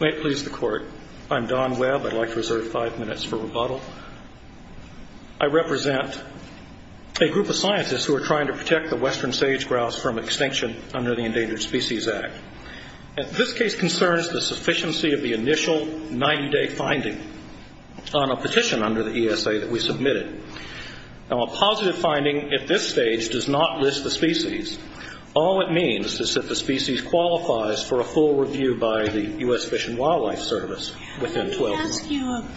May it please the court. I'm Don Webb. I'd like to reserve five minutes for rebuttal. I represent a group of scientists who are trying to protect the western sage-grouse from extinction under the Endangered Species Act. This case concerns the sufficiency of the initial 90-day finding on a petition under the ESA that we submitted. A positive finding at this stage does not list the species. All it means is that the species qualifies for a full review by the U.S. Fish and Wildlife Service within 12 months. Let me ask you a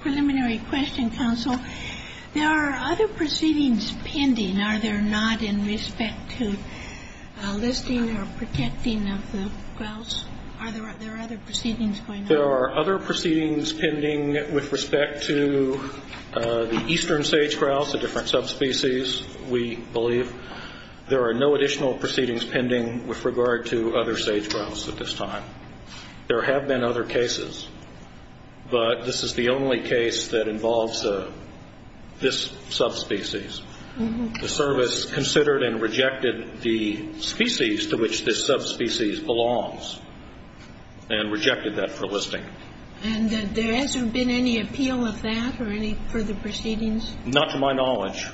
preliminary question, counsel. There are other proceedings pending, are there not, in respect to listing or protecting of the grouse? There are other proceedings pending with respect to the eastern sage-grouse, a different subspecies, we believe. There are no additional proceedings pending with regard to other sage-grouse at this time. There have been other cases, but this is the only case that involves this subspecies. The service considered and rejected the species to which this subspecies belongs and rejected that for listing. And there hasn't been any appeal of that or any further proceedings? Not to my knowledge.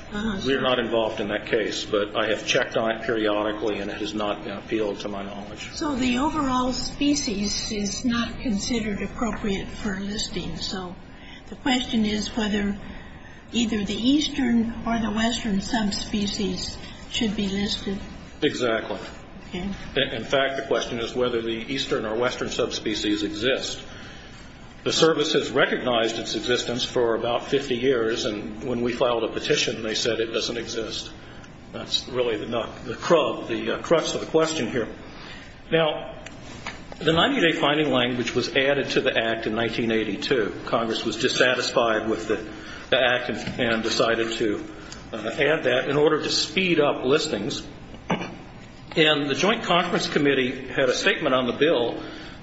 We are not involved in that case, but I have checked on it periodically and it has not appealed to my knowledge. So the overall species is not considered appropriate for listing, so the question is whether either the eastern or the western subspecies should be listed? Exactly. In fact, the question is whether the eastern or western subspecies exist. The service has recognized its existence for about 50 years, and when we filed a petition they said it doesn't exist. That's really the crux of the question here. Now, the 90-day finding language was added to the Act in 1982. Congress was dissatisfied with the Act and decided to add that in order to speed up listings. And the Joint Conference Committee had a statement on the bill,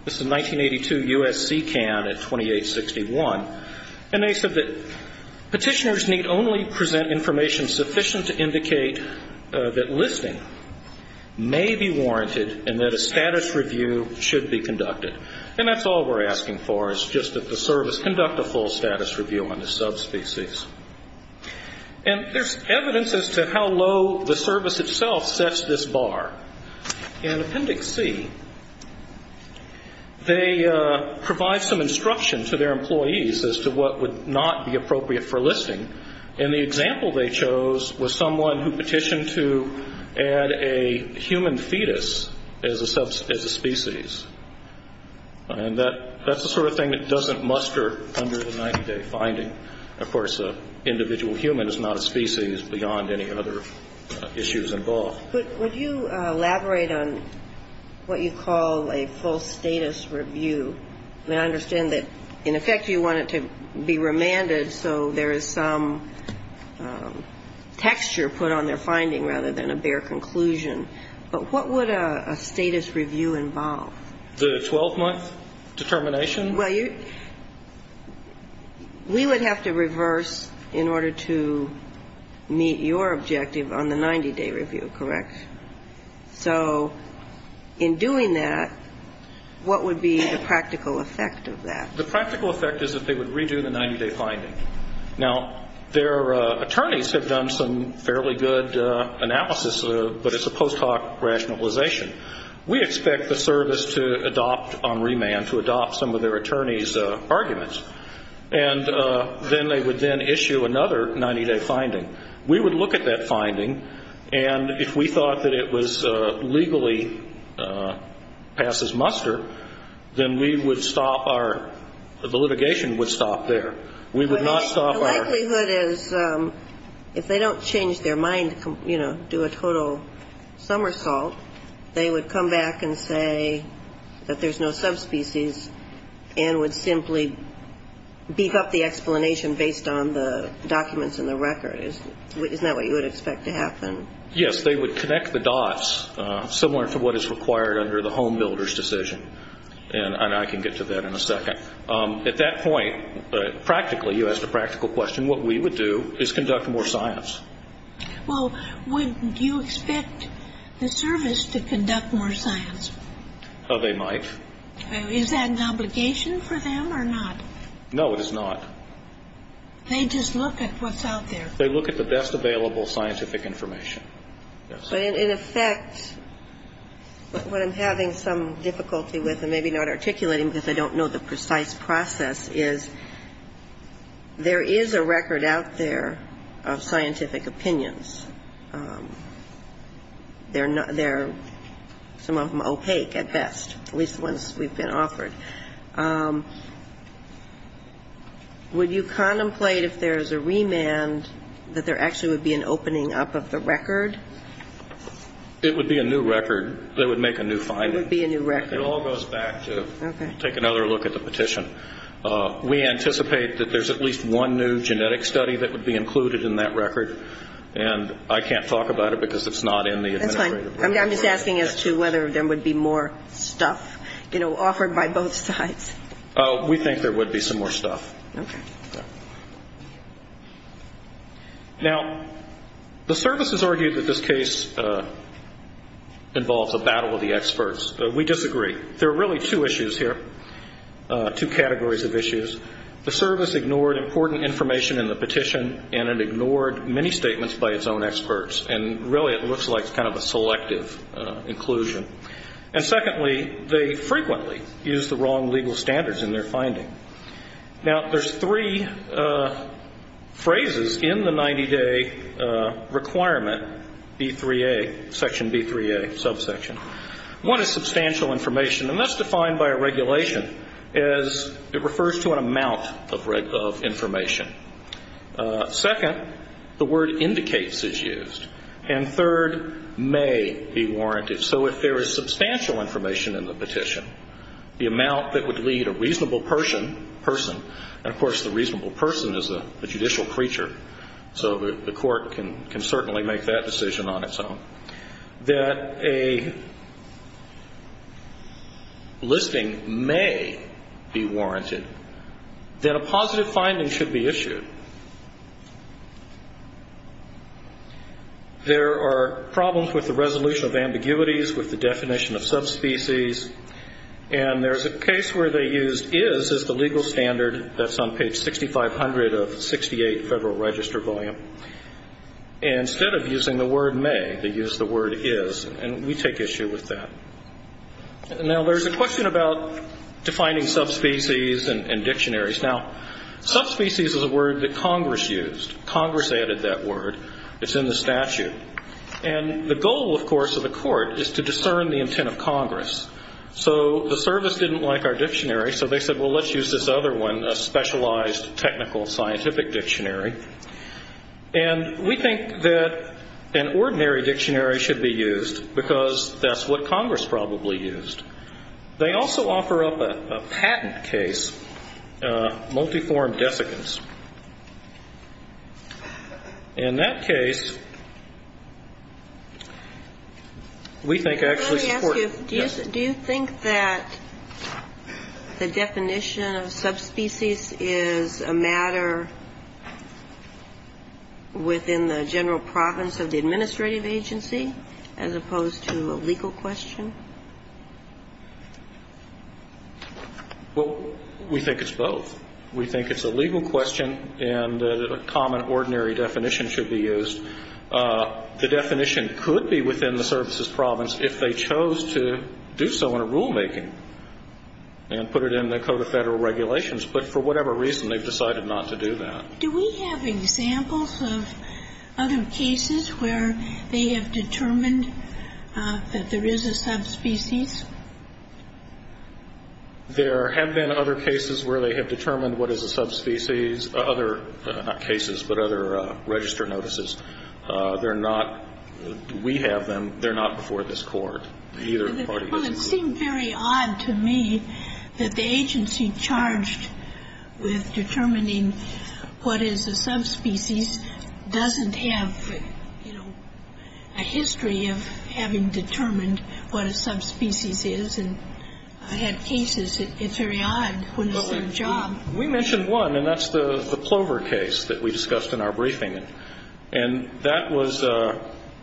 this is 1982 U.S.C. CAN at 2861, and they said that petitioners need only present information sufficient to indicate that listing may be warranted and that a status review should be conducted. And that's all we're asking for is just that the service conduct a full status review on the subspecies. And there's evidence as to how low the service itself sets this bar. In Appendix C, they provide some instruction to their employees as to what would not be appropriate for listing. And the example they chose was someone who petitioned to add a human fetus as a species. And that's the sort of thing that doesn't muster under the 90-day finding. Of course, an individual human is not a species beyond any other issues involved. Would you elaborate on what you call a full status review? I mean, I understand that, in effect, you want it to be remanded so there is some texture put on their finding rather than a bare conclusion. But what would a status review involve? The 12-month determination? Well, we would have to reverse in order to meet your objective on the 90-day review, correct? So in doing that, what would be the practical effect of that? The practical effect is that they would redo the 90-day finding. Now, their attorneys have done some fairly good analysis of it, but it's a post hoc rationalization. We expect the service to adopt on remand, to adopt some of their attorney's arguments. And then they would then issue another 90-day finding. We would look at that finding, and if we thought that it was legally passes muster, then we would stop our ‑‑ the litigation would stop there. We would not stop our ‑‑ The likelihood is if they don't change their mind, you know, do a total somersault, they would come back and say that there's no subspecies and would simply beef up the explanation based on the documents in the record. Isn't that what you would expect to happen? Yes, they would connect the dots, similar to what is required under the home builder's decision. And I can get to that in a second. At that point, practically, you asked a practical question, what we would do is conduct more science. Well, wouldn't you expect the service to conduct more science? They might. Is that an obligation for them or not? No, it is not. They just look at what's out there. They look at the best available scientific information. In effect, what I'm having some difficulty with, and maybe not articulating because I don't know the precise process, is there is a record out there of scientific opinions. They're not ‑‑ they're, some of them, opaque at best, at least the ones we've been offered. Would you contemplate, if there's a remand, that there actually would be an opening up of the record? It would be a new record. They would make a new finding. It would be a new record. It all goes back to, take another look at the petition. We anticipate that there's at least one new genetic study that would be included in that record, and I can't talk about it because it's not in the administrative record. That's fine. I'm just asking as to whether there would be more stuff, you know, offered by both sides. We think there would be some more stuff. Okay. Now, the service has argued that this case involves a battle of the experts. We disagree. There are really two issues here, two categories of issues. The service ignored important information in the petition, and it ignored many statements by its own experts, and really it looks like kind of a selective inclusion. And secondly, they frequently use the wrong legal standards in their finding. Now, there's three phrases in the 90-day requirement, B3A, Section B3A, subsection. One is substantial information, and that's defined by a regulation as it refers to an amount of information. Second, the word indicates is used. And third, may be warranted. So if there is substantial information in the petition, the amount that would lead a reasonable person, and, of course, the reasonable person is a judicial creature, so the court can certainly make that decision on its own, that a listing may be warranted, There are problems with the resolution of ambiguities with the definition of subspecies, and there's a case where they used is as the legal standard. That's on page 6500 of 68 Federal Register Volume. And instead of using the word may, they used the word is, and we take issue with that. Now, there's a question about defining subspecies and dictionaries. Now, subspecies is a word that Congress used. Congress added that word. It's in the statute. And the goal, of course, of the court is to discern the intent of Congress. So the service didn't like our dictionary, so they said, well, let's use this other one, a specialized technical scientific dictionary. And we think that an ordinary dictionary should be used because that's what Congress probably used. They also offer up a patent case, multi-form desiccants. In that case, we think actually the court ---- Let me ask you, do you think that the definition of subspecies is a matter within the general province of the Well, we think it's both. We think it's a legal question and a common, ordinary definition should be used. The definition could be within the services province if they chose to do so in a rulemaking and put it in the Code of Federal Regulations. But for whatever reason, they've decided not to do that. Do we have examples of other cases where they have determined that there is a subspecies? There have been other cases where they have determined what is a subspecies. Other cases, but other register notices. They're not ---- We have them. They're not before this Court. Well, it seemed very odd to me that the agency charged with determining what is a subspecies doesn't have, you know, a history of having determined what a subspecies is. And I had cases. It's very odd when it's their job. We mentioned one, and that's the Clover case that we discussed in our briefing. And that was ----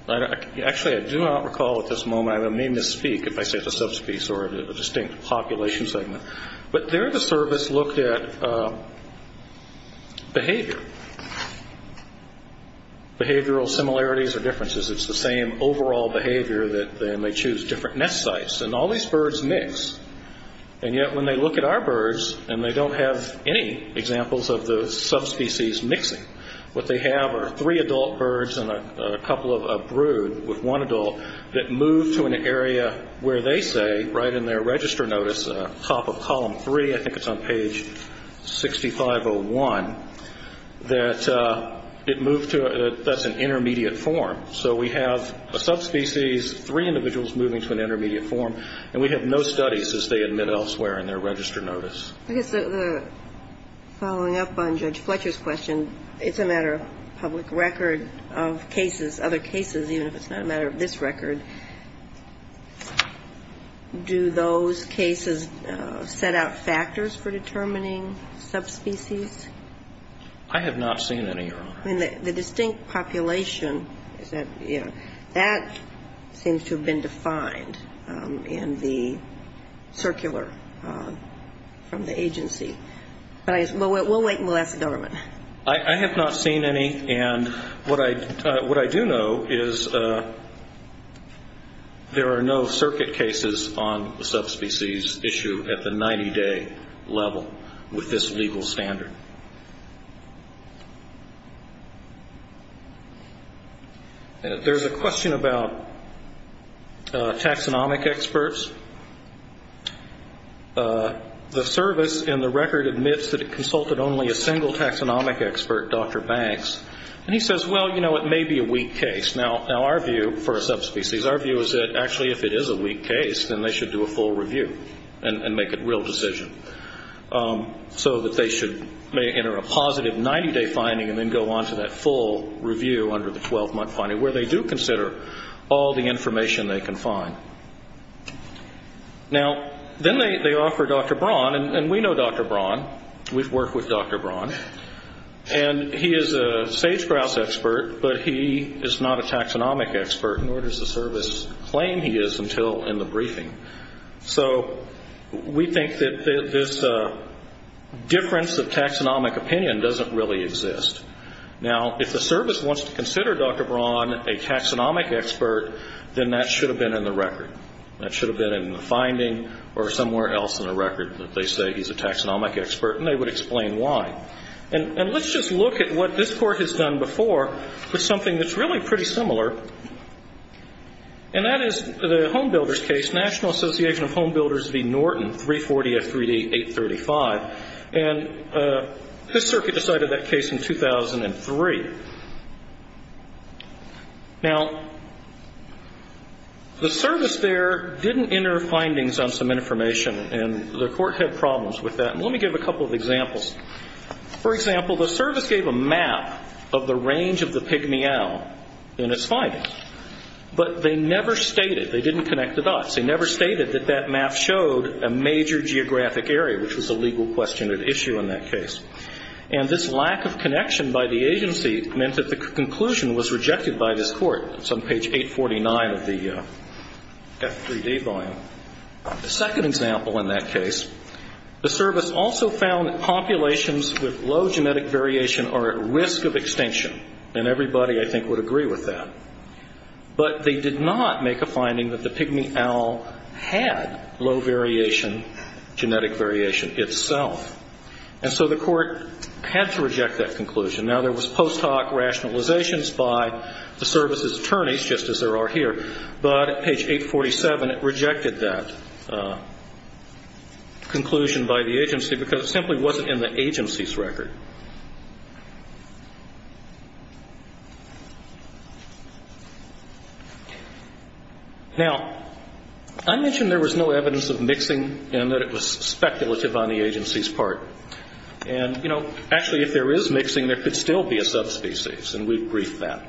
Actually, I do not recall at this moment. I may misspeak if I say it's a subspecies or a distinct population segment. But there the service looked at behavior, behavioral similarities or differences. It's the same overall behavior that they may choose different nest sites. And all these birds mix. And yet when they look at our birds and they don't have any examples of the subspecies mixing, what they have are three adult birds and a couple of brood with one adult that move to an area where they say right in their register notice, top of column three, I think it's on page 6501, that it moved to a ---- that's an intermediate form. So we have a subspecies, three individuals moving to an intermediate form, and we have no studies as they admit elsewhere in their register notice. I guess the following up on Judge Fletcher's question, it's a matter of public record of cases, other cases, even if it's not a matter of this record. Do those cases set out factors for determining subspecies? I have not seen any, Your Honor. The distinct population is that, you know, that seems to have been defined in the circular from the agency. But we'll wait and we'll ask the government. I have not seen any. And what I do know is there are no circuit cases on the subspecies issue at the 90-day level with this legal standard. There's a question about taxonomic experts. The service in the record admits that it consulted only a single taxonomic expert, Dr. Banks, and he says, well, you know, it may be a weak case. Now, our view for a subspecies, our view is that actually if it is a weak case, then they should do a full review and make a real decision so that they should enter a positive 90-day finding and then go on to that full review under the 12-month finding where they do consider all the information they can find. Now, then they offer Dr. Braun, and we know Dr. Braun. We've worked with Dr. Braun. And he is a sage-grouse expert, but he is not a taxonomic expert, nor does the service claim he is until in the briefing. So we think that this difference of taxonomic opinion doesn't really exist. Now, if the service wants to consider Dr. Braun a taxonomic expert, then that should have been in the record. That should have been in the finding or somewhere else in the record that they say he's a taxonomic expert, and they would explain why. And let's just look at what this Court has done before with something that's really pretty similar, and that is the Home Builders case, National Association of Home Builders v. Norton, 340 F. 3D 835. And this Circuit decided that case in 2003. Now, the service there didn't enter findings on some information, and the Court had problems with that. And let me give a couple of examples. For example, the service gave a map of the range of the pig meow in its findings. But they never stated, they didn't connect the dots, they never stated that that map showed a major geographic area, which was a legal question at issue in that case. And this lack of connection by the agency meant that the conclusion was rejected by this Court. It's on page 849 of the F. 3D volume. The second example in that case, the service also found that populations with low genetic variation are at risk of extinction. And everybody, I think, would agree with that. But they did not make a finding that the pig meow had low variation, genetic variation itself. And so the Court had to reject that conclusion. Now, there was post hoc rationalizations by the service's attorneys, just as there are here, but at page 847 it rejected that conclusion by the agency because it simply wasn't in the agency's record. Now, I mentioned there was no evidence of mixing and that it was speculative on the agency's part. And, you know, actually if there is mixing, there could still be a subspecies, and we've briefed that.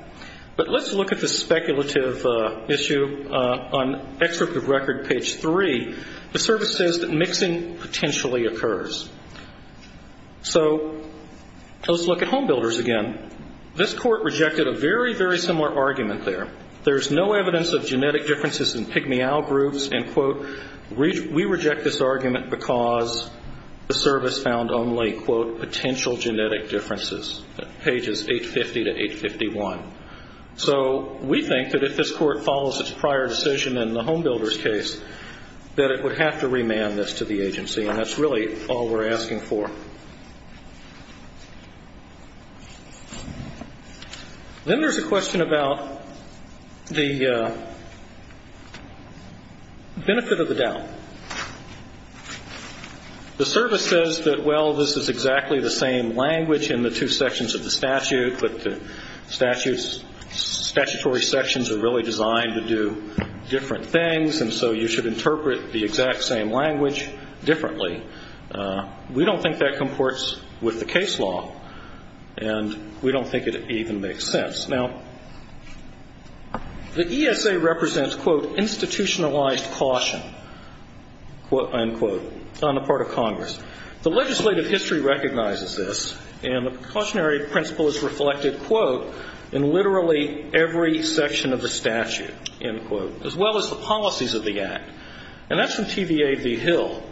But let's look at the speculative issue on excerpt of record page 3. The service says that mixing potentially occurs. So let's look at home builders again. This Court rejected a very, very similar argument there. There's no evidence of genetic differences in pig meow groups, and, quote, We reject this argument because the service found only, quote, potential genetic differences, pages 850 to 851. So we think that if this Court follows its prior decision in the home builder's case, that it would have to remand this to the agency, and that's really all we're asking for. Then there's a question about the benefit of the doubt. The service says that, well, this is exactly the same language in the two sections of the statute, but the statutory sections are really designed to do different things, and so you should interpret the exact same language differently. We don't think that comports with the case law, and we don't think it even makes sense. Now, the ESA represents, quote, institutionalized caution, unquote, on the part of Congress. The legislative history recognizes this, and the cautionary principle is reflected, quote, in literally every section of the statute, unquote, as well as the policies of the Act. And that's in TVA v. Hill,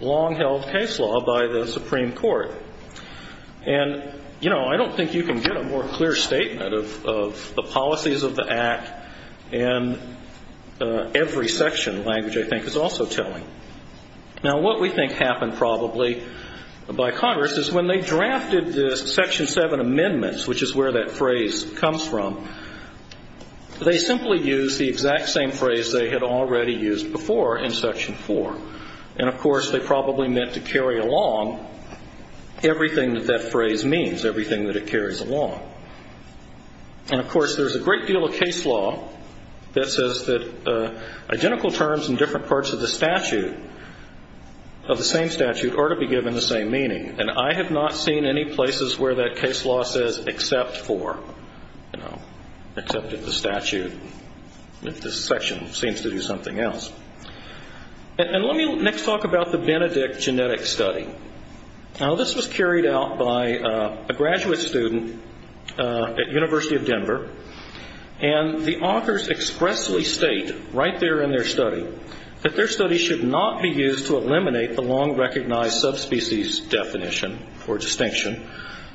long-held case law by the Supreme Court. And, you know, I don't think you can get a more clear statement of the policies of the Act in every section language I think is also telling. Now, what we think happened probably by Congress is when they drafted this Section 7 amendments, which is where that phrase comes from, they simply used the exact same phrase they had already used before in Section 4. And, of course, they probably meant to carry along everything that that phrase means, everything that it carries along. And, of course, there's a great deal of case law that says that identical terms in different parts of the statute, of the same statute, are to be given the same meaning. And I have not seen any places where that case law says except for, you know, except in the statute. This section seems to do something else. And let me next talk about the Benedict genetic study. Now, this was carried out by a graduate student at University of Denver, and the authors expressly state right there in their study that their study should not be used to eliminate the long-recognized subspecies definition or distinction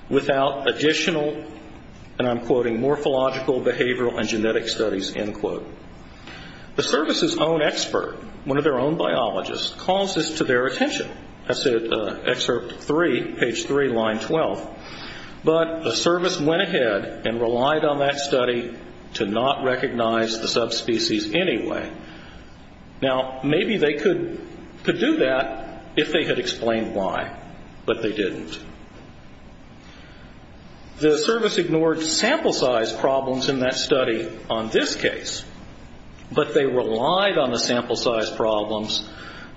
without additional, and I'm quoting, morphological, behavioral, and genetic studies, end quote. The service's own expert, one of their own biologists, calls this to their attention. That's at excerpt 3, page 3, line 12. But the service went ahead and relied on that study to not recognize the subspecies anyway. Now, maybe they could do that if they had explained why, but they didn't. The service ignored sample size problems in that study on this case, but they relied on the sample size problems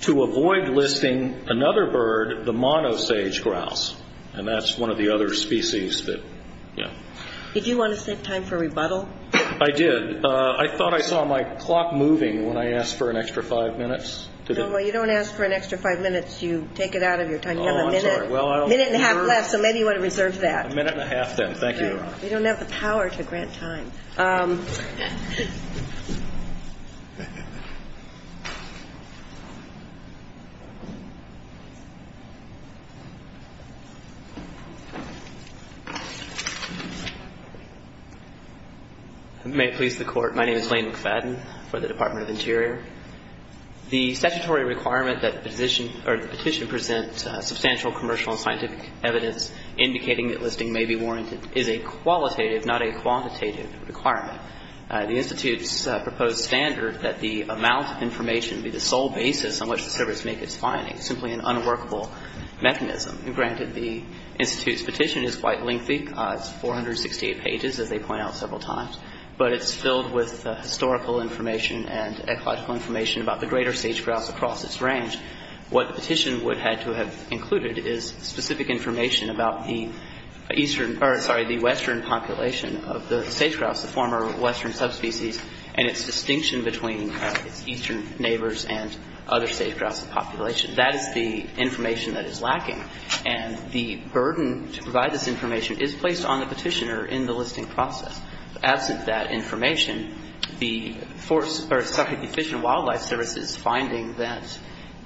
to avoid listing another bird, the monosage grouse, and that's one of the other species that, you know. Did you want to save time for rebuttal? I did. I thought I saw my clock moving when I asked for an extra five minutes. No, you don't ask for an extra five minutes. You take it out of your time. Oh, I'm sorry. You have a minute and a half left, so maybe you want to reserve that. A minute and a half then. Thank you. You don't have the power to grant time. May it please the Court. My name is Lane McFadden for the Department of Interior. The statutory requirement that the petition present substantial commercial and scientific evidence indicating that listing may be warranted is a qualitative, not a quantitative, requirement. The Institute's proposed standard that the amount of information be the sole basis on which the service make its findings, simply an unworkable mechanism. Granted, the Institute's petition is quite lengthy. It's 468 pages, as they point out several times, but it's filled with historical information and ecological information about the greater sage grouse across its range. What the petition would have had to have included is specific information about the eastern or, sorry, the western population of the sage grouse, the former western subspecies, and its distinction between its eastern neighbors and other sage grouse populations. That is the information that is lacking. And the burden to provide this information is placed on the petitioner in the listing process. Absent that information, the Fish and Wildlife Service's finding that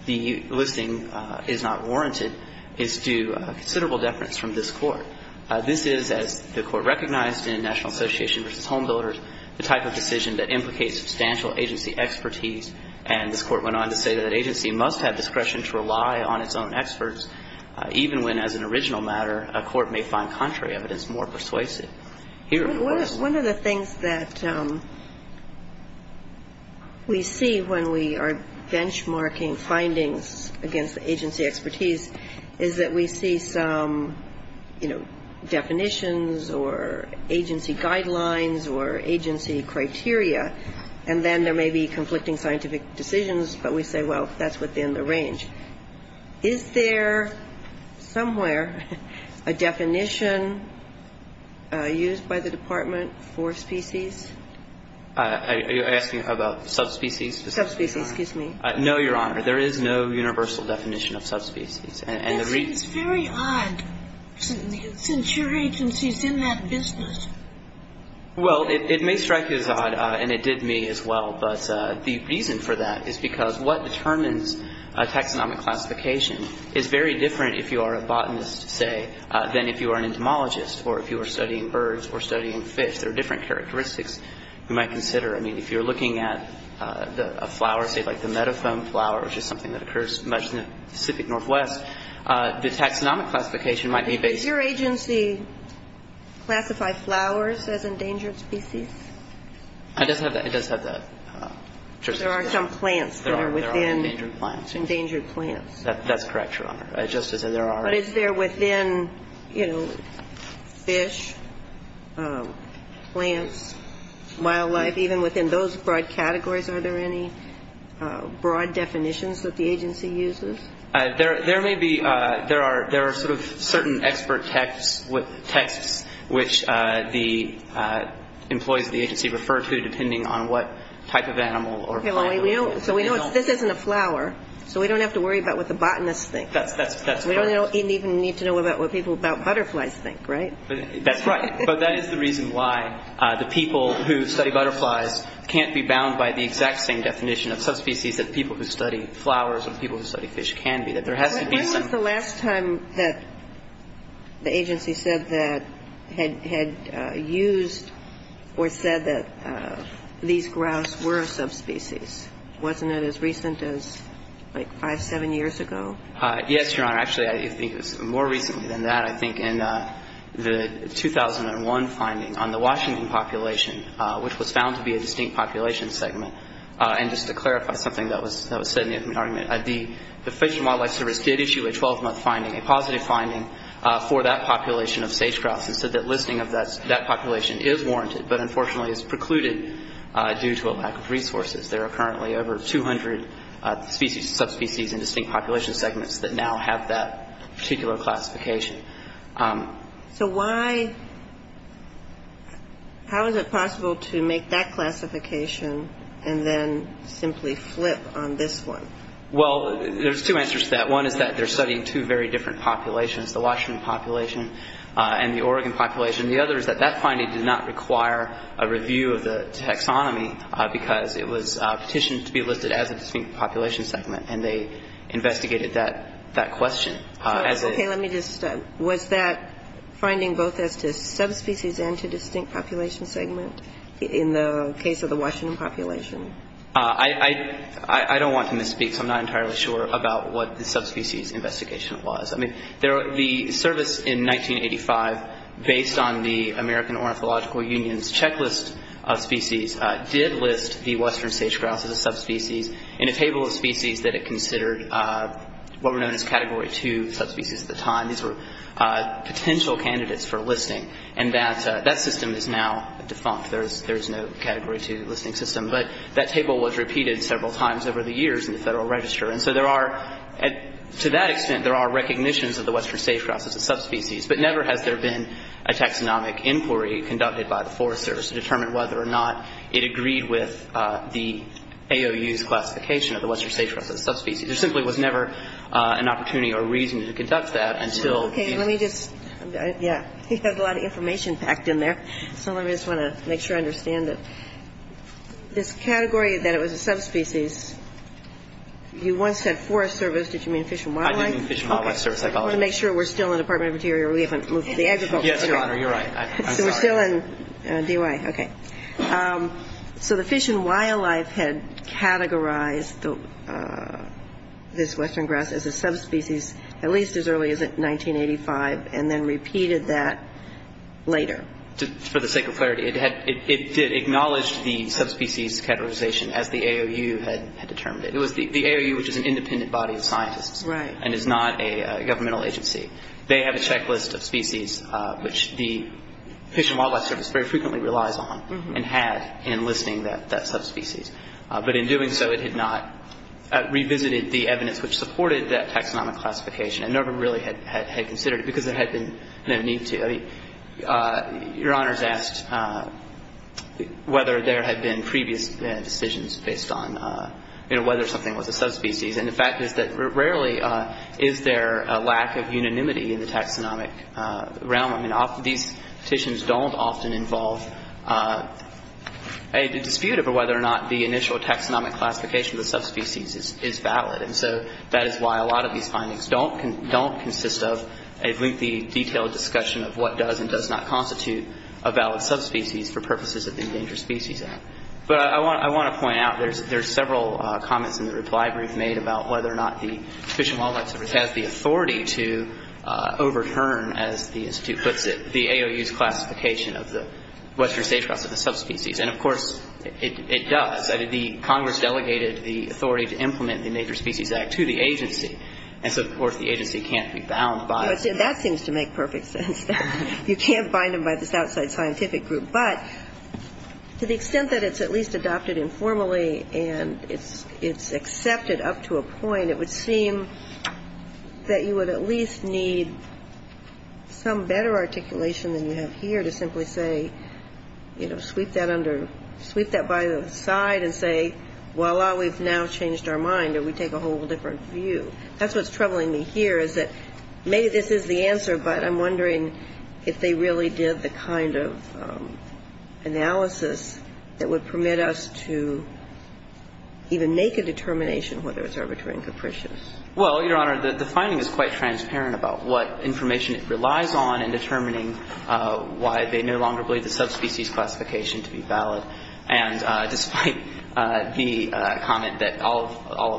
the listing is not warranted is due considerable deference from this Court. This is, as the Court recognized in National Association v. Homebuilders, the type of decision that implicates substantial agency expertise. And this Court went on to say that an agency must have discretion to rely on its own experts, even when, as an original matter, a court may find contrary evidence more persuasive. One of the things that we see when we are benchmarking findings against agency expertise is that we see some, you know, definitions or agency guidelines or agency criteria, and then there may be conflicting scientific decisions, but we say, well, that's within the range. Is there somewhere a definition used by the Department for species? Are you asking about subspecies? Subspecies, excuse me. No, Your Honor. There is no universal definition of subspecies. That seems very odd, since your agency is in that business. Well, it may strike you as odd, and it did me as well, but the reason for that is because what determines taxonomic classification is very different if you are a botanist, say, than if you are an entomologist or if you are studying birds or studying fish. There are different characteristics you might consider. I mean, if you're looking at a flower, say, like the meadow foam flower, which is something that occurs much in the Pacific Northwest, the taxonomic classification might be based on that. Does your agency classify flowers as endangered species? It does have that. There are some plants that are within. There are endangered plants. Endangered plants. That's correct, Your Honor. Just as there are. But is there within, you know, fish, plants, wildlife, even within those broad categories, are there any broad definitions that the agency uses? There may be. There are sort of certain expert texts which the employees of the agency refer to, depending on what type of animal or plant it is. So we know this isn't a flower, so we don't have to worry about what the botanists think. That's correct. We don't even need to know about what people about butterflies think, right? That's right. But that is the reason why the people who study butterflies can't be bound by the exact same definition of subspecies that people who study flowers or people who study fish can be, that there has to be some. When was the last time that the agency said that, had used or said that these grouse were a subspecies? Wasn't it as recent as like five, seven years ago? Yes, Your Honor. Actually, I think it was more recently than that. I think in the 2001 finding on the Washington population, which was found to be a distinct population segment. And just to clarify something that was said in the argument, the Fish and Wildlife Service did issue a 12-month finding, a positive finding for that population of sage grouse and said that listing of that population is warranted, but unfortunately is precluded due to a lack of resources. There are currently over 200 species, subspecies, and distinct population segments that now have that particular classification. So why, how is it possible to make that classification and then simply flip on this one? Well, there's two answers to that. One is that they're studying two very different populations, the Washington population and the Oregon population. The other is that that finding did not require a review of the taxonomy because it was petitioned to be listed as a distinct population segment, and they investigated that question. Okay. Let me just start. Was that finding both as to subspecies and to distinct population segment in the case of the Washington population? I don't want to misspeak, so I'm not entirely sure about what the subspecies investigation was. I mean, the service in 1985, based on the American Ornithological Union's checklist of species, did list the western sage-grouse as a subspecies in a table of species that it considered what were known as Category 2 subspecies at the time. These were potential candidates for listing, and that system is now defunct. There is no Category 2 listing system. But that table was repeated several times over the years in the Federal Register. And so there are, to that extent, there are recognitions of the western sage-grouse as a subspecies, but never has there been a taxonomic inquiry conducted by the Forest Service to determine whether or not it agreed with the AOU's classification of the western sage-grouse as a subspecies. There simply was never an opportunity or reason to conduct that until the ---- Okay. Let me just ---- yeah. You have a lot of information packed in there, so I just want to make sure I understand it. This category that it was a subspecies, you once said Forest Service. Did you mean Fish and Wildlife? I did mean Fish and Wildlife Service. I apologize. I just want to make sure we're still in the Department of Interior. We haven't moved to the Agriculture Department. Yes, Your Honor. You're right. I'm sorry. So we're still in DOI. Okay. So the Fish and Wildlife had categorized this western grass as a subspecies at least as early as 1985 and then repeated that later. For the sake of clarity, it did acknowledge the subspecies categorization as the AOU had determined it. It was the AOU, which is an independent body of scientists. Right. And is not a governmental agency. They have a checklist of species, which the Fish and Wildlife Service very frequently relies on and had in listing that subspecies. But in doing so, it had not revisited the evidence which supported that taxonomic classification and never really had considered it because there had been no need to. I mean, Your Honors asked whether there had been previous decisions based on, you know, whether something was a subspecies. And the fact is that rarely is there a lack of unanimity in the taxonomic realm. I mean, these petitions don't often involve a dispute over whether or not the initial taxonomic classification of the subspecies is valid. And so that is why a lot of these findings don't consist of a lengthy, detailed discussion of what does and does not constitute a valid subspecies for purposes of the Endangered Species Act. But I want to point out there's several comments in the reply brief made about whether or not the Fish and Wildlife Service has the authority to overturn, as the Institute puts it, the AOU's classification of the Western sage-cross as a subspecies. And, of course, it does. The Congress delegated the authority to implement the Major Species Act to the agency. And so, of course, the agency can't be bound by it. That seems to make perfect sense. You can't bind them by this outside scientific group. But to the extent that it's at least adopted informally and it's accepted up to a point, it would seem that you would at least need some better articulation than you have here to simply say, you know, sweep that by the side and say, voila, we've now changed our mind or we take a whole different view. That's what's troubling me here is that maybe this is the answer, but I'm wondering if they really did the kind of analysis that would permit us to even make a determination whether it's arbitrary and capricious. Well, Your Honor, the finding is quite transparent about what information it relies on in determining why they no longer believe the subspecies classification to be valid. And despite the comment that all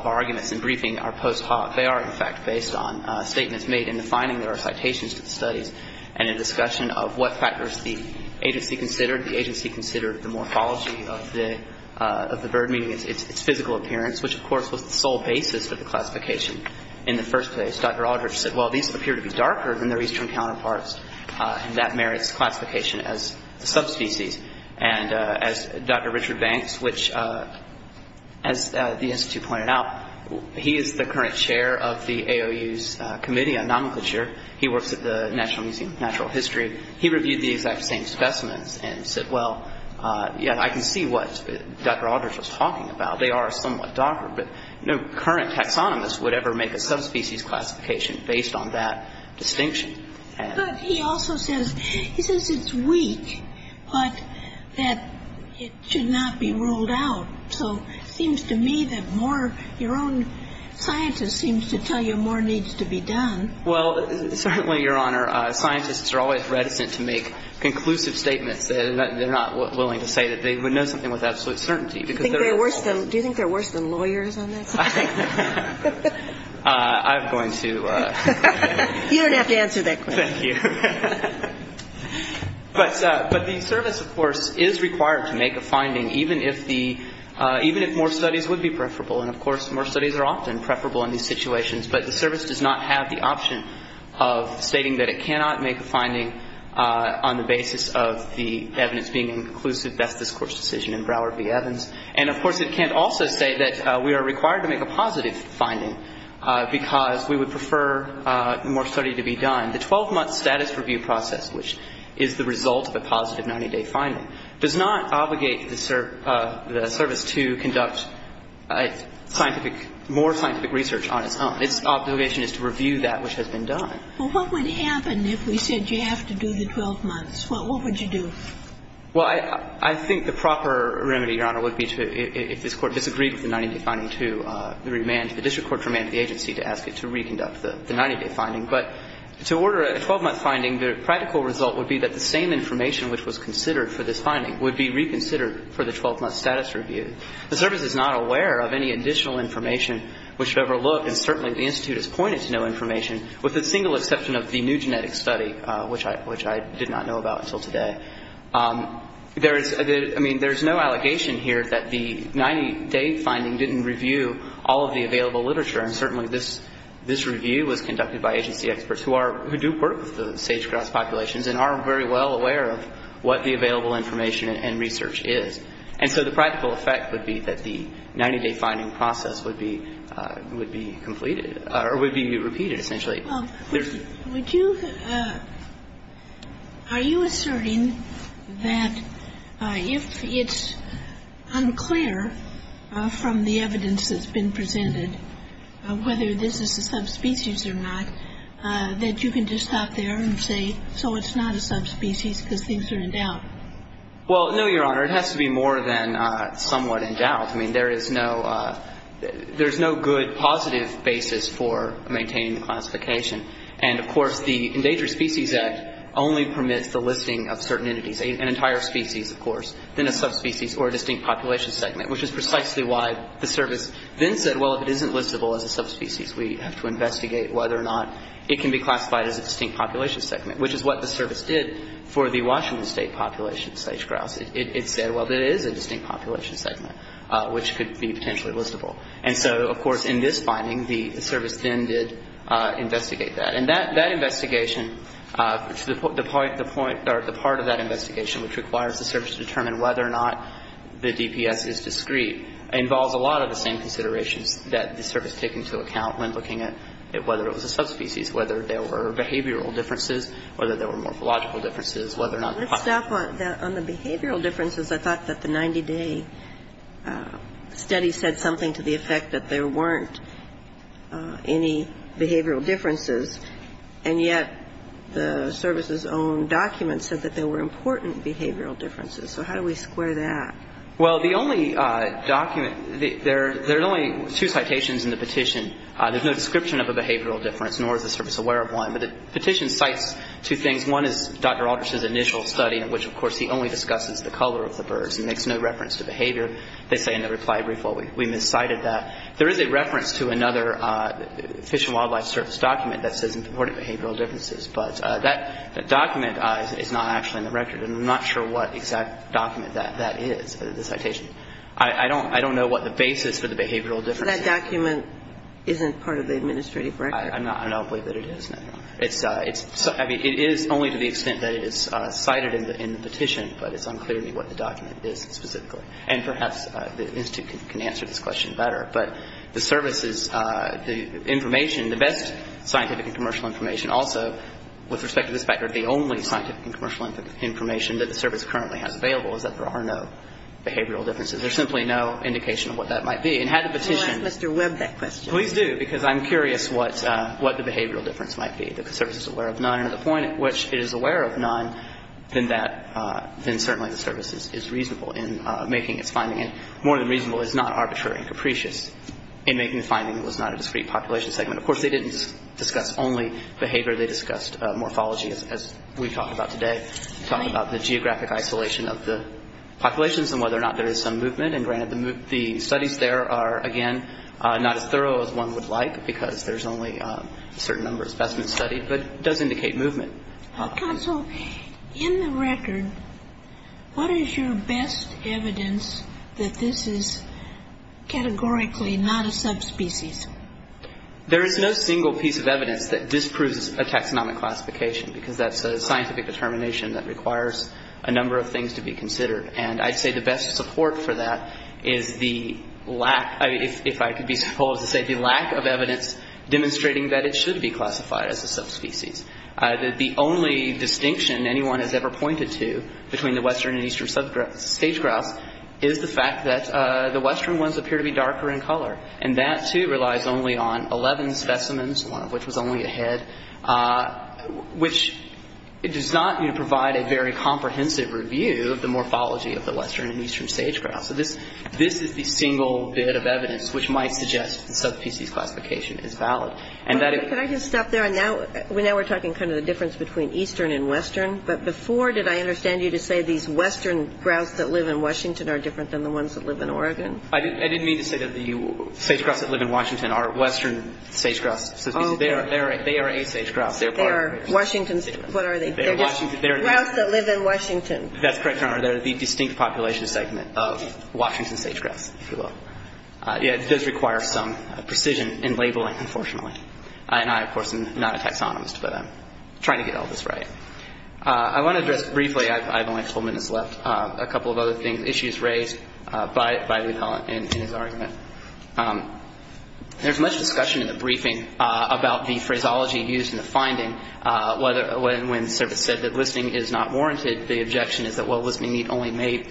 of our arguments in briefing are post hoc, they are, in fact, based on statements made in the finding. There are citations to the studies and a discussion of what factors the agency considered. The agency considered the morphology of the bird, meaning its physical appearance, which, of course, was the sole basis of the classification in the first place. Dr. Aldrich said, well, these appear to be darker than their eastern counterparts, and that merits classification as a subspecies. And as Dr. Richard Banks, which, as the Institute pointed out, he is the current chair of the AOU's committee on nomenclature. He works at the National Museum of Natural History. He reviewed the exact same specimens and said, well, yeah, I can see what Dr. Aldrich was talking about. They are somewhat darker, but no current taxonomist would ever make a subspecies classification based on that distinction. But he also says, he says it's weak, but that it should not be ruled out. So it seems to me that more, your own scientist seems to tell you more needs to be done. Well, certainly, Your Honor, scientists are always reticent to make conclusive statements. They're not willing to say that they would know something with absolute certainty. Do you think they're worse than lawyers on that subject? I'm going to. You don't have to answer that question. Thank you. But the service, of course, is required to make a finding, even if the, even if more studies would be preferable. And, of course, more studies are often preferable in these situations. But the service does not have the option of stating that it cannot make a finding on the basis of the evidence being inclusive. And, of course, it can't also say that we are required to make a positive finding because we would prefer more study to be done. The 12-month status review process, which is the result of a positive 90-day finding, does not obligate the service to conduct scientific, more scientific research on its own. Its obligation is to review that which has been done. Well, what would happen if we said you have to do the 12 months? What would you do? Well, I think the proper remedy, Your Honor, would be to, if this Court disagreed with the 90-day finding, to the remand, the district court remanded the agency to ask it to reconduct the 90-day finding. But to order a 12-month finding, the practical result would be that the same information which was considered for this finding would be reconsidered for the 12-month status review. The service is not aware of any additional information which would overlook, and certainly the Institute has pointed to no information, with the single exception of the new genetic study, which I did not know about until today. There is no allegation here that the 90-day finding didn't review all of the available literature, and certainly this review was conducted by agency experts who do work with the sage-grouse populations and are very well aware of what the available information and research is. And so the practical effect would be that the 90-day finding process would be completed or would be repeated, essentially. Kagan. Well, would you – are you asserting that if it's unclear from the evidence that's been presented whether this is a subspecies or not, that you can just stop there and say, so it's not a subspecies because things are in doubt? Well, no, Your Honor. It has to be more than somewhat in doubt. I mean, there is no good positive basis for maintaining the classification. And, of course, the Endangered Species Act only permits the listing of certain entities, an entire species, of course, then a subspecies or a distinct population segment, which is precisely why the service then said, well, if it isn't listable as a subspecies, we have to investigate whether or not it can be classified as a distinct population segment, which is what the service did for the Washington State population of sage-grouse. It said, well, it is a distinct population segment, which could be potentially listable. And so, of course, in this finding, the service then did investigate that. And that investigation, the point or the part of that investigation which requires the service to determine whether or not the DPS is discrete, involves a lot of the same considerations that the service take into account when looking at whether it was a subspecies, whether there were behavioral differences, whether there were behavioral differences. I thought that the 90-day study said something to the effect that there weren't any behavioral differences. And yet the service's own document said that there were important behavioral differences. So how do we square that? Well, the only document, there are only two citations in the petition. There's no description of a behavioral difference, nor is the service aware of one. But the petition cites two things. One is Dr. Aldrich's initial study, in which, of course, he only discusses the color of the birds and makes no reference to behavior. They say in the reply brief, well, we miscited that. There is a reference to another Fish and Wildlife Service document that says important behavioral differences. But that document is not actually in the record, and I'm not sure what exact document that is, the citation. I don't know what the basis for the behavioral difference is. But that document isn't part of the administrative record. I don't believe that it is. I mean, it is only to the extent that it is cited in the petition, but it's unclear to me what the document is specifically. And perhaps the institute can answer this question better. But the services, the information, the best scientific and commercial information also, with respect to this factor, the only scientific and commercial information that the service currently has available is that there are no behavioral differences. There's simply no indication of what that might be. And had the petition ---- Can we ask Mr. Webb that question? Please do, because I'm curious what the behavioral difference might be. The service is aware of none. And at the point at which it is aware of none, then that ---- then certainly the service is reasonable in making its finding. And more than reasonable is not arbitrary and capricious in making the finding that it was not a discrete population segment. Of course, they didn't discuss only behavior. They discussed morphology, as we talked about today. They talked about the geographic isolation of the populations and whether or not there is some movement. And, granted, the studies there are, again, not as thorough as one would like, because there's only a certain number of specimens studied. But it does indicate movement. Counsel, in the record, what is your best evidence that this is categorically not a subspecies? There is no single piece of evidence that disproves a taxonomic classification, because that's a scientific determination that requires a number of things to be considered. And I'd say the best support for that is the lack, if I could be so bold as to say, the lack of evidence demonstrating that it should be classified as a subspecies. The only distinction anyone has ever pointed to between the western and eastern sage-grouse is the fact that the western ones appear to be darker in color. And that, too, relies only on 11 specimens, one of which was only a head, which does not provide a very comprehensive review of the morphology of the western and eastern sage-grouse. So this is the single bit of evidence which might suggest the subspecies classification is valid. Could I just stop there? Now we're talking kind of the difference between eastern and western. But before, did I understand you to say these western grouse that live in Washington are different than the ones that live in Oregon? I didn't mean to say that the sage-grouse that live in Washington are western sage-grouse subspecies. They are a sage-grouse. They are part of it. They are Washington's. What are they? They're just grouse that live in Washington. That's correct, Your Honor. They're the distinct population segment of Washington sage-grouse, if you will. Yeah, it does require some precision in labeling, unfortunately. And I, of course, am not a taxonomist, but I'm trying to get all this right. I want to address briefly, I have only a couple of minutes left, a couple of other things, issues raised by Luthell in his argument. There's much discussion in the briefing about the phraseology used in the finding when the service said that listing is not warranted. The objection is that, well, listing only may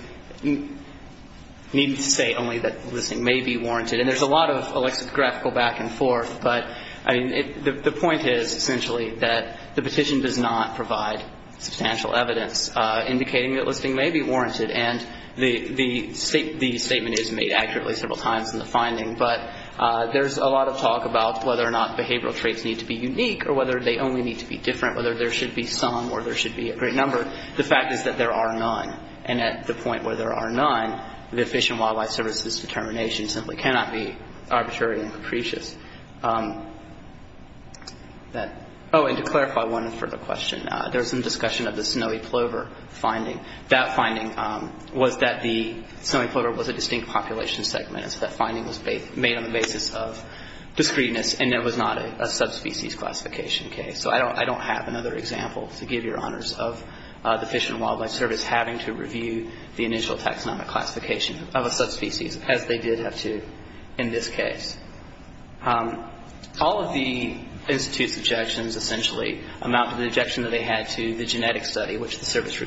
be warranted. And there's a lot of lexicographical back and forth. But the point is, essentially, that the petition does not provide substantial evidence indicating that listing may be warranted. And the statement is made accurately several times in the finding. But there's a lot of talk about whether or not behavioral traits need to be unique or whether they only need to be different, whether there should be some or there should be a great number. The fact is that there are none. And at the point where there are none, the Fish and Wildlife Service's determination simply cannot be arbitrary and capricious. Oh, and to clarify one further question, there was some discussion of the snowy plover finding. That finding was that the snowy plover was a distinct population segment. And so that finding was made on the basis of discreteness, and there was not a subspecies classification case. So I don't have another example, to give your honors, of the Fish and Wildlife Service having to review the initial taxonomic classification of a subspecies, as they did have to in this case. All of the Institute's objections, essentially, amount to the objection that they had to the genetic study, which the Service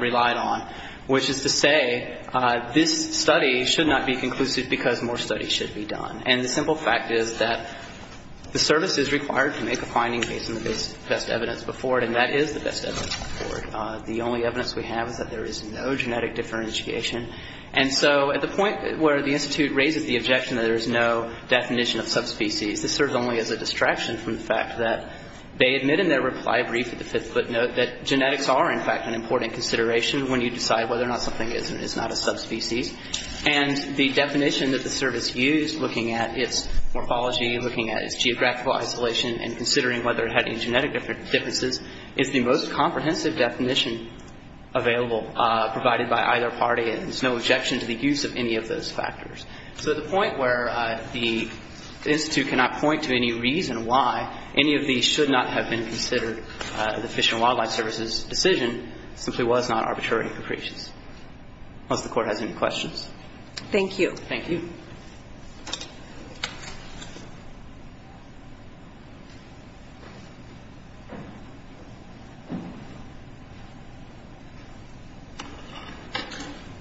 relied on, which is to say this study should not be conclusive because more studies should be done. And the simple fact is that the Service is required to make a finding based on the best evidence before it, and that is the best evidence before it. The only evidence we have is that there is no genetic differentiation. And so at the point where the Institute raises the objection that there is no definition of subspecies, this serves only as a distraction from the fact that they admit in their reply brief at the fifth footnote that genetics are, in fact, an important consideration when you decide whether or not something is and is not a subspecies. And the definition that the Service used, looking at its morphology, looking at its geographical isolation, and considering whether it had any genetic differences, is the most comprehensive definition available provided by either party, and there's no objection to the use of any of those factors. So at the point where the Institute cannot point to any reason why any of these should not have been considered in the Fish and Wildlife Service's decision, it simply was not arbitrary appropriations. Unless the Court has any questions. Thank you. Thank you.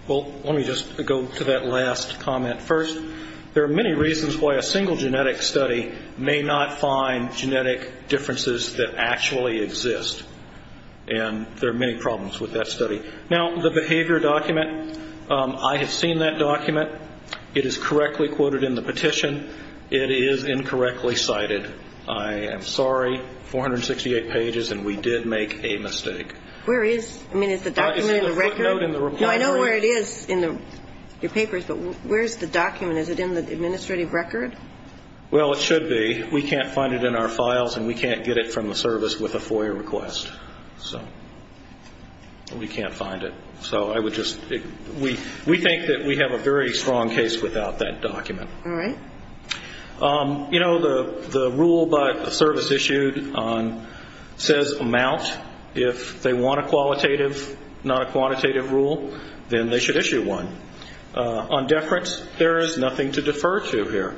Well, let me just go to that last comment first. There are many reasons why a single genetic study may not find genetic differences that actually exist, and there are many problems with that study. Now, the behavior document, I have seen that document. It is correctly quoted in the petition. It is incorrectly cited. I am sorry, 468 pages, and we did make a mistake. Where is? I mean, is the document in the record? It's in the footnote in the report. No, I know where it is in your papers, but where's the document? Is it in the administrative record? Well, it should be. We can't find it in our files, and we can't get it from the Service with a FOIA request. So we can't find it. We think that we have a very strong case without that document. All right. You know, the rule by the Service issued says amount. If they want a qualitative, not a quantitative rule, then they should issue one. On deference, there is nothing to defer to here.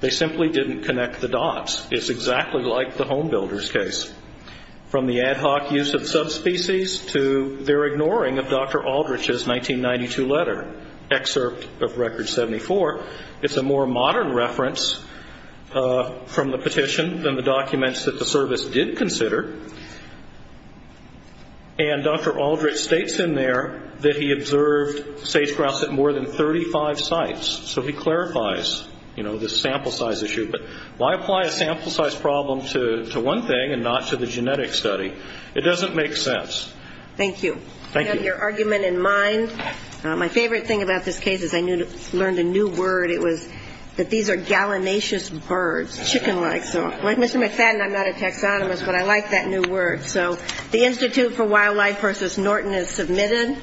They simply didn't connect the dots. It's exactly like the home builder's case. From the ad hoc use of subspecies to their ignoring of Dr. Aldrich's 1992 letter, excerpt of Record 74, it's a more modern reference from the petition than the documents that the Service did consider. And Dr. Aldrich states in there that he observed sage-grouse at more than 35 sites. So he clarifies, you know, the sample size issue. But why apply a sample size problem to one thing and not to the genetic study? It doesn't make sense. Thank you. Thank you. I have your argument in mind. My favorite thing about this case is I learned a new word. It was that these are gallinaceous birds, chicken-like. So like Mr. McFadden, I'm not a taxonomist, but I like that new word. So the Institute for Wildlife versus Norton is submitted.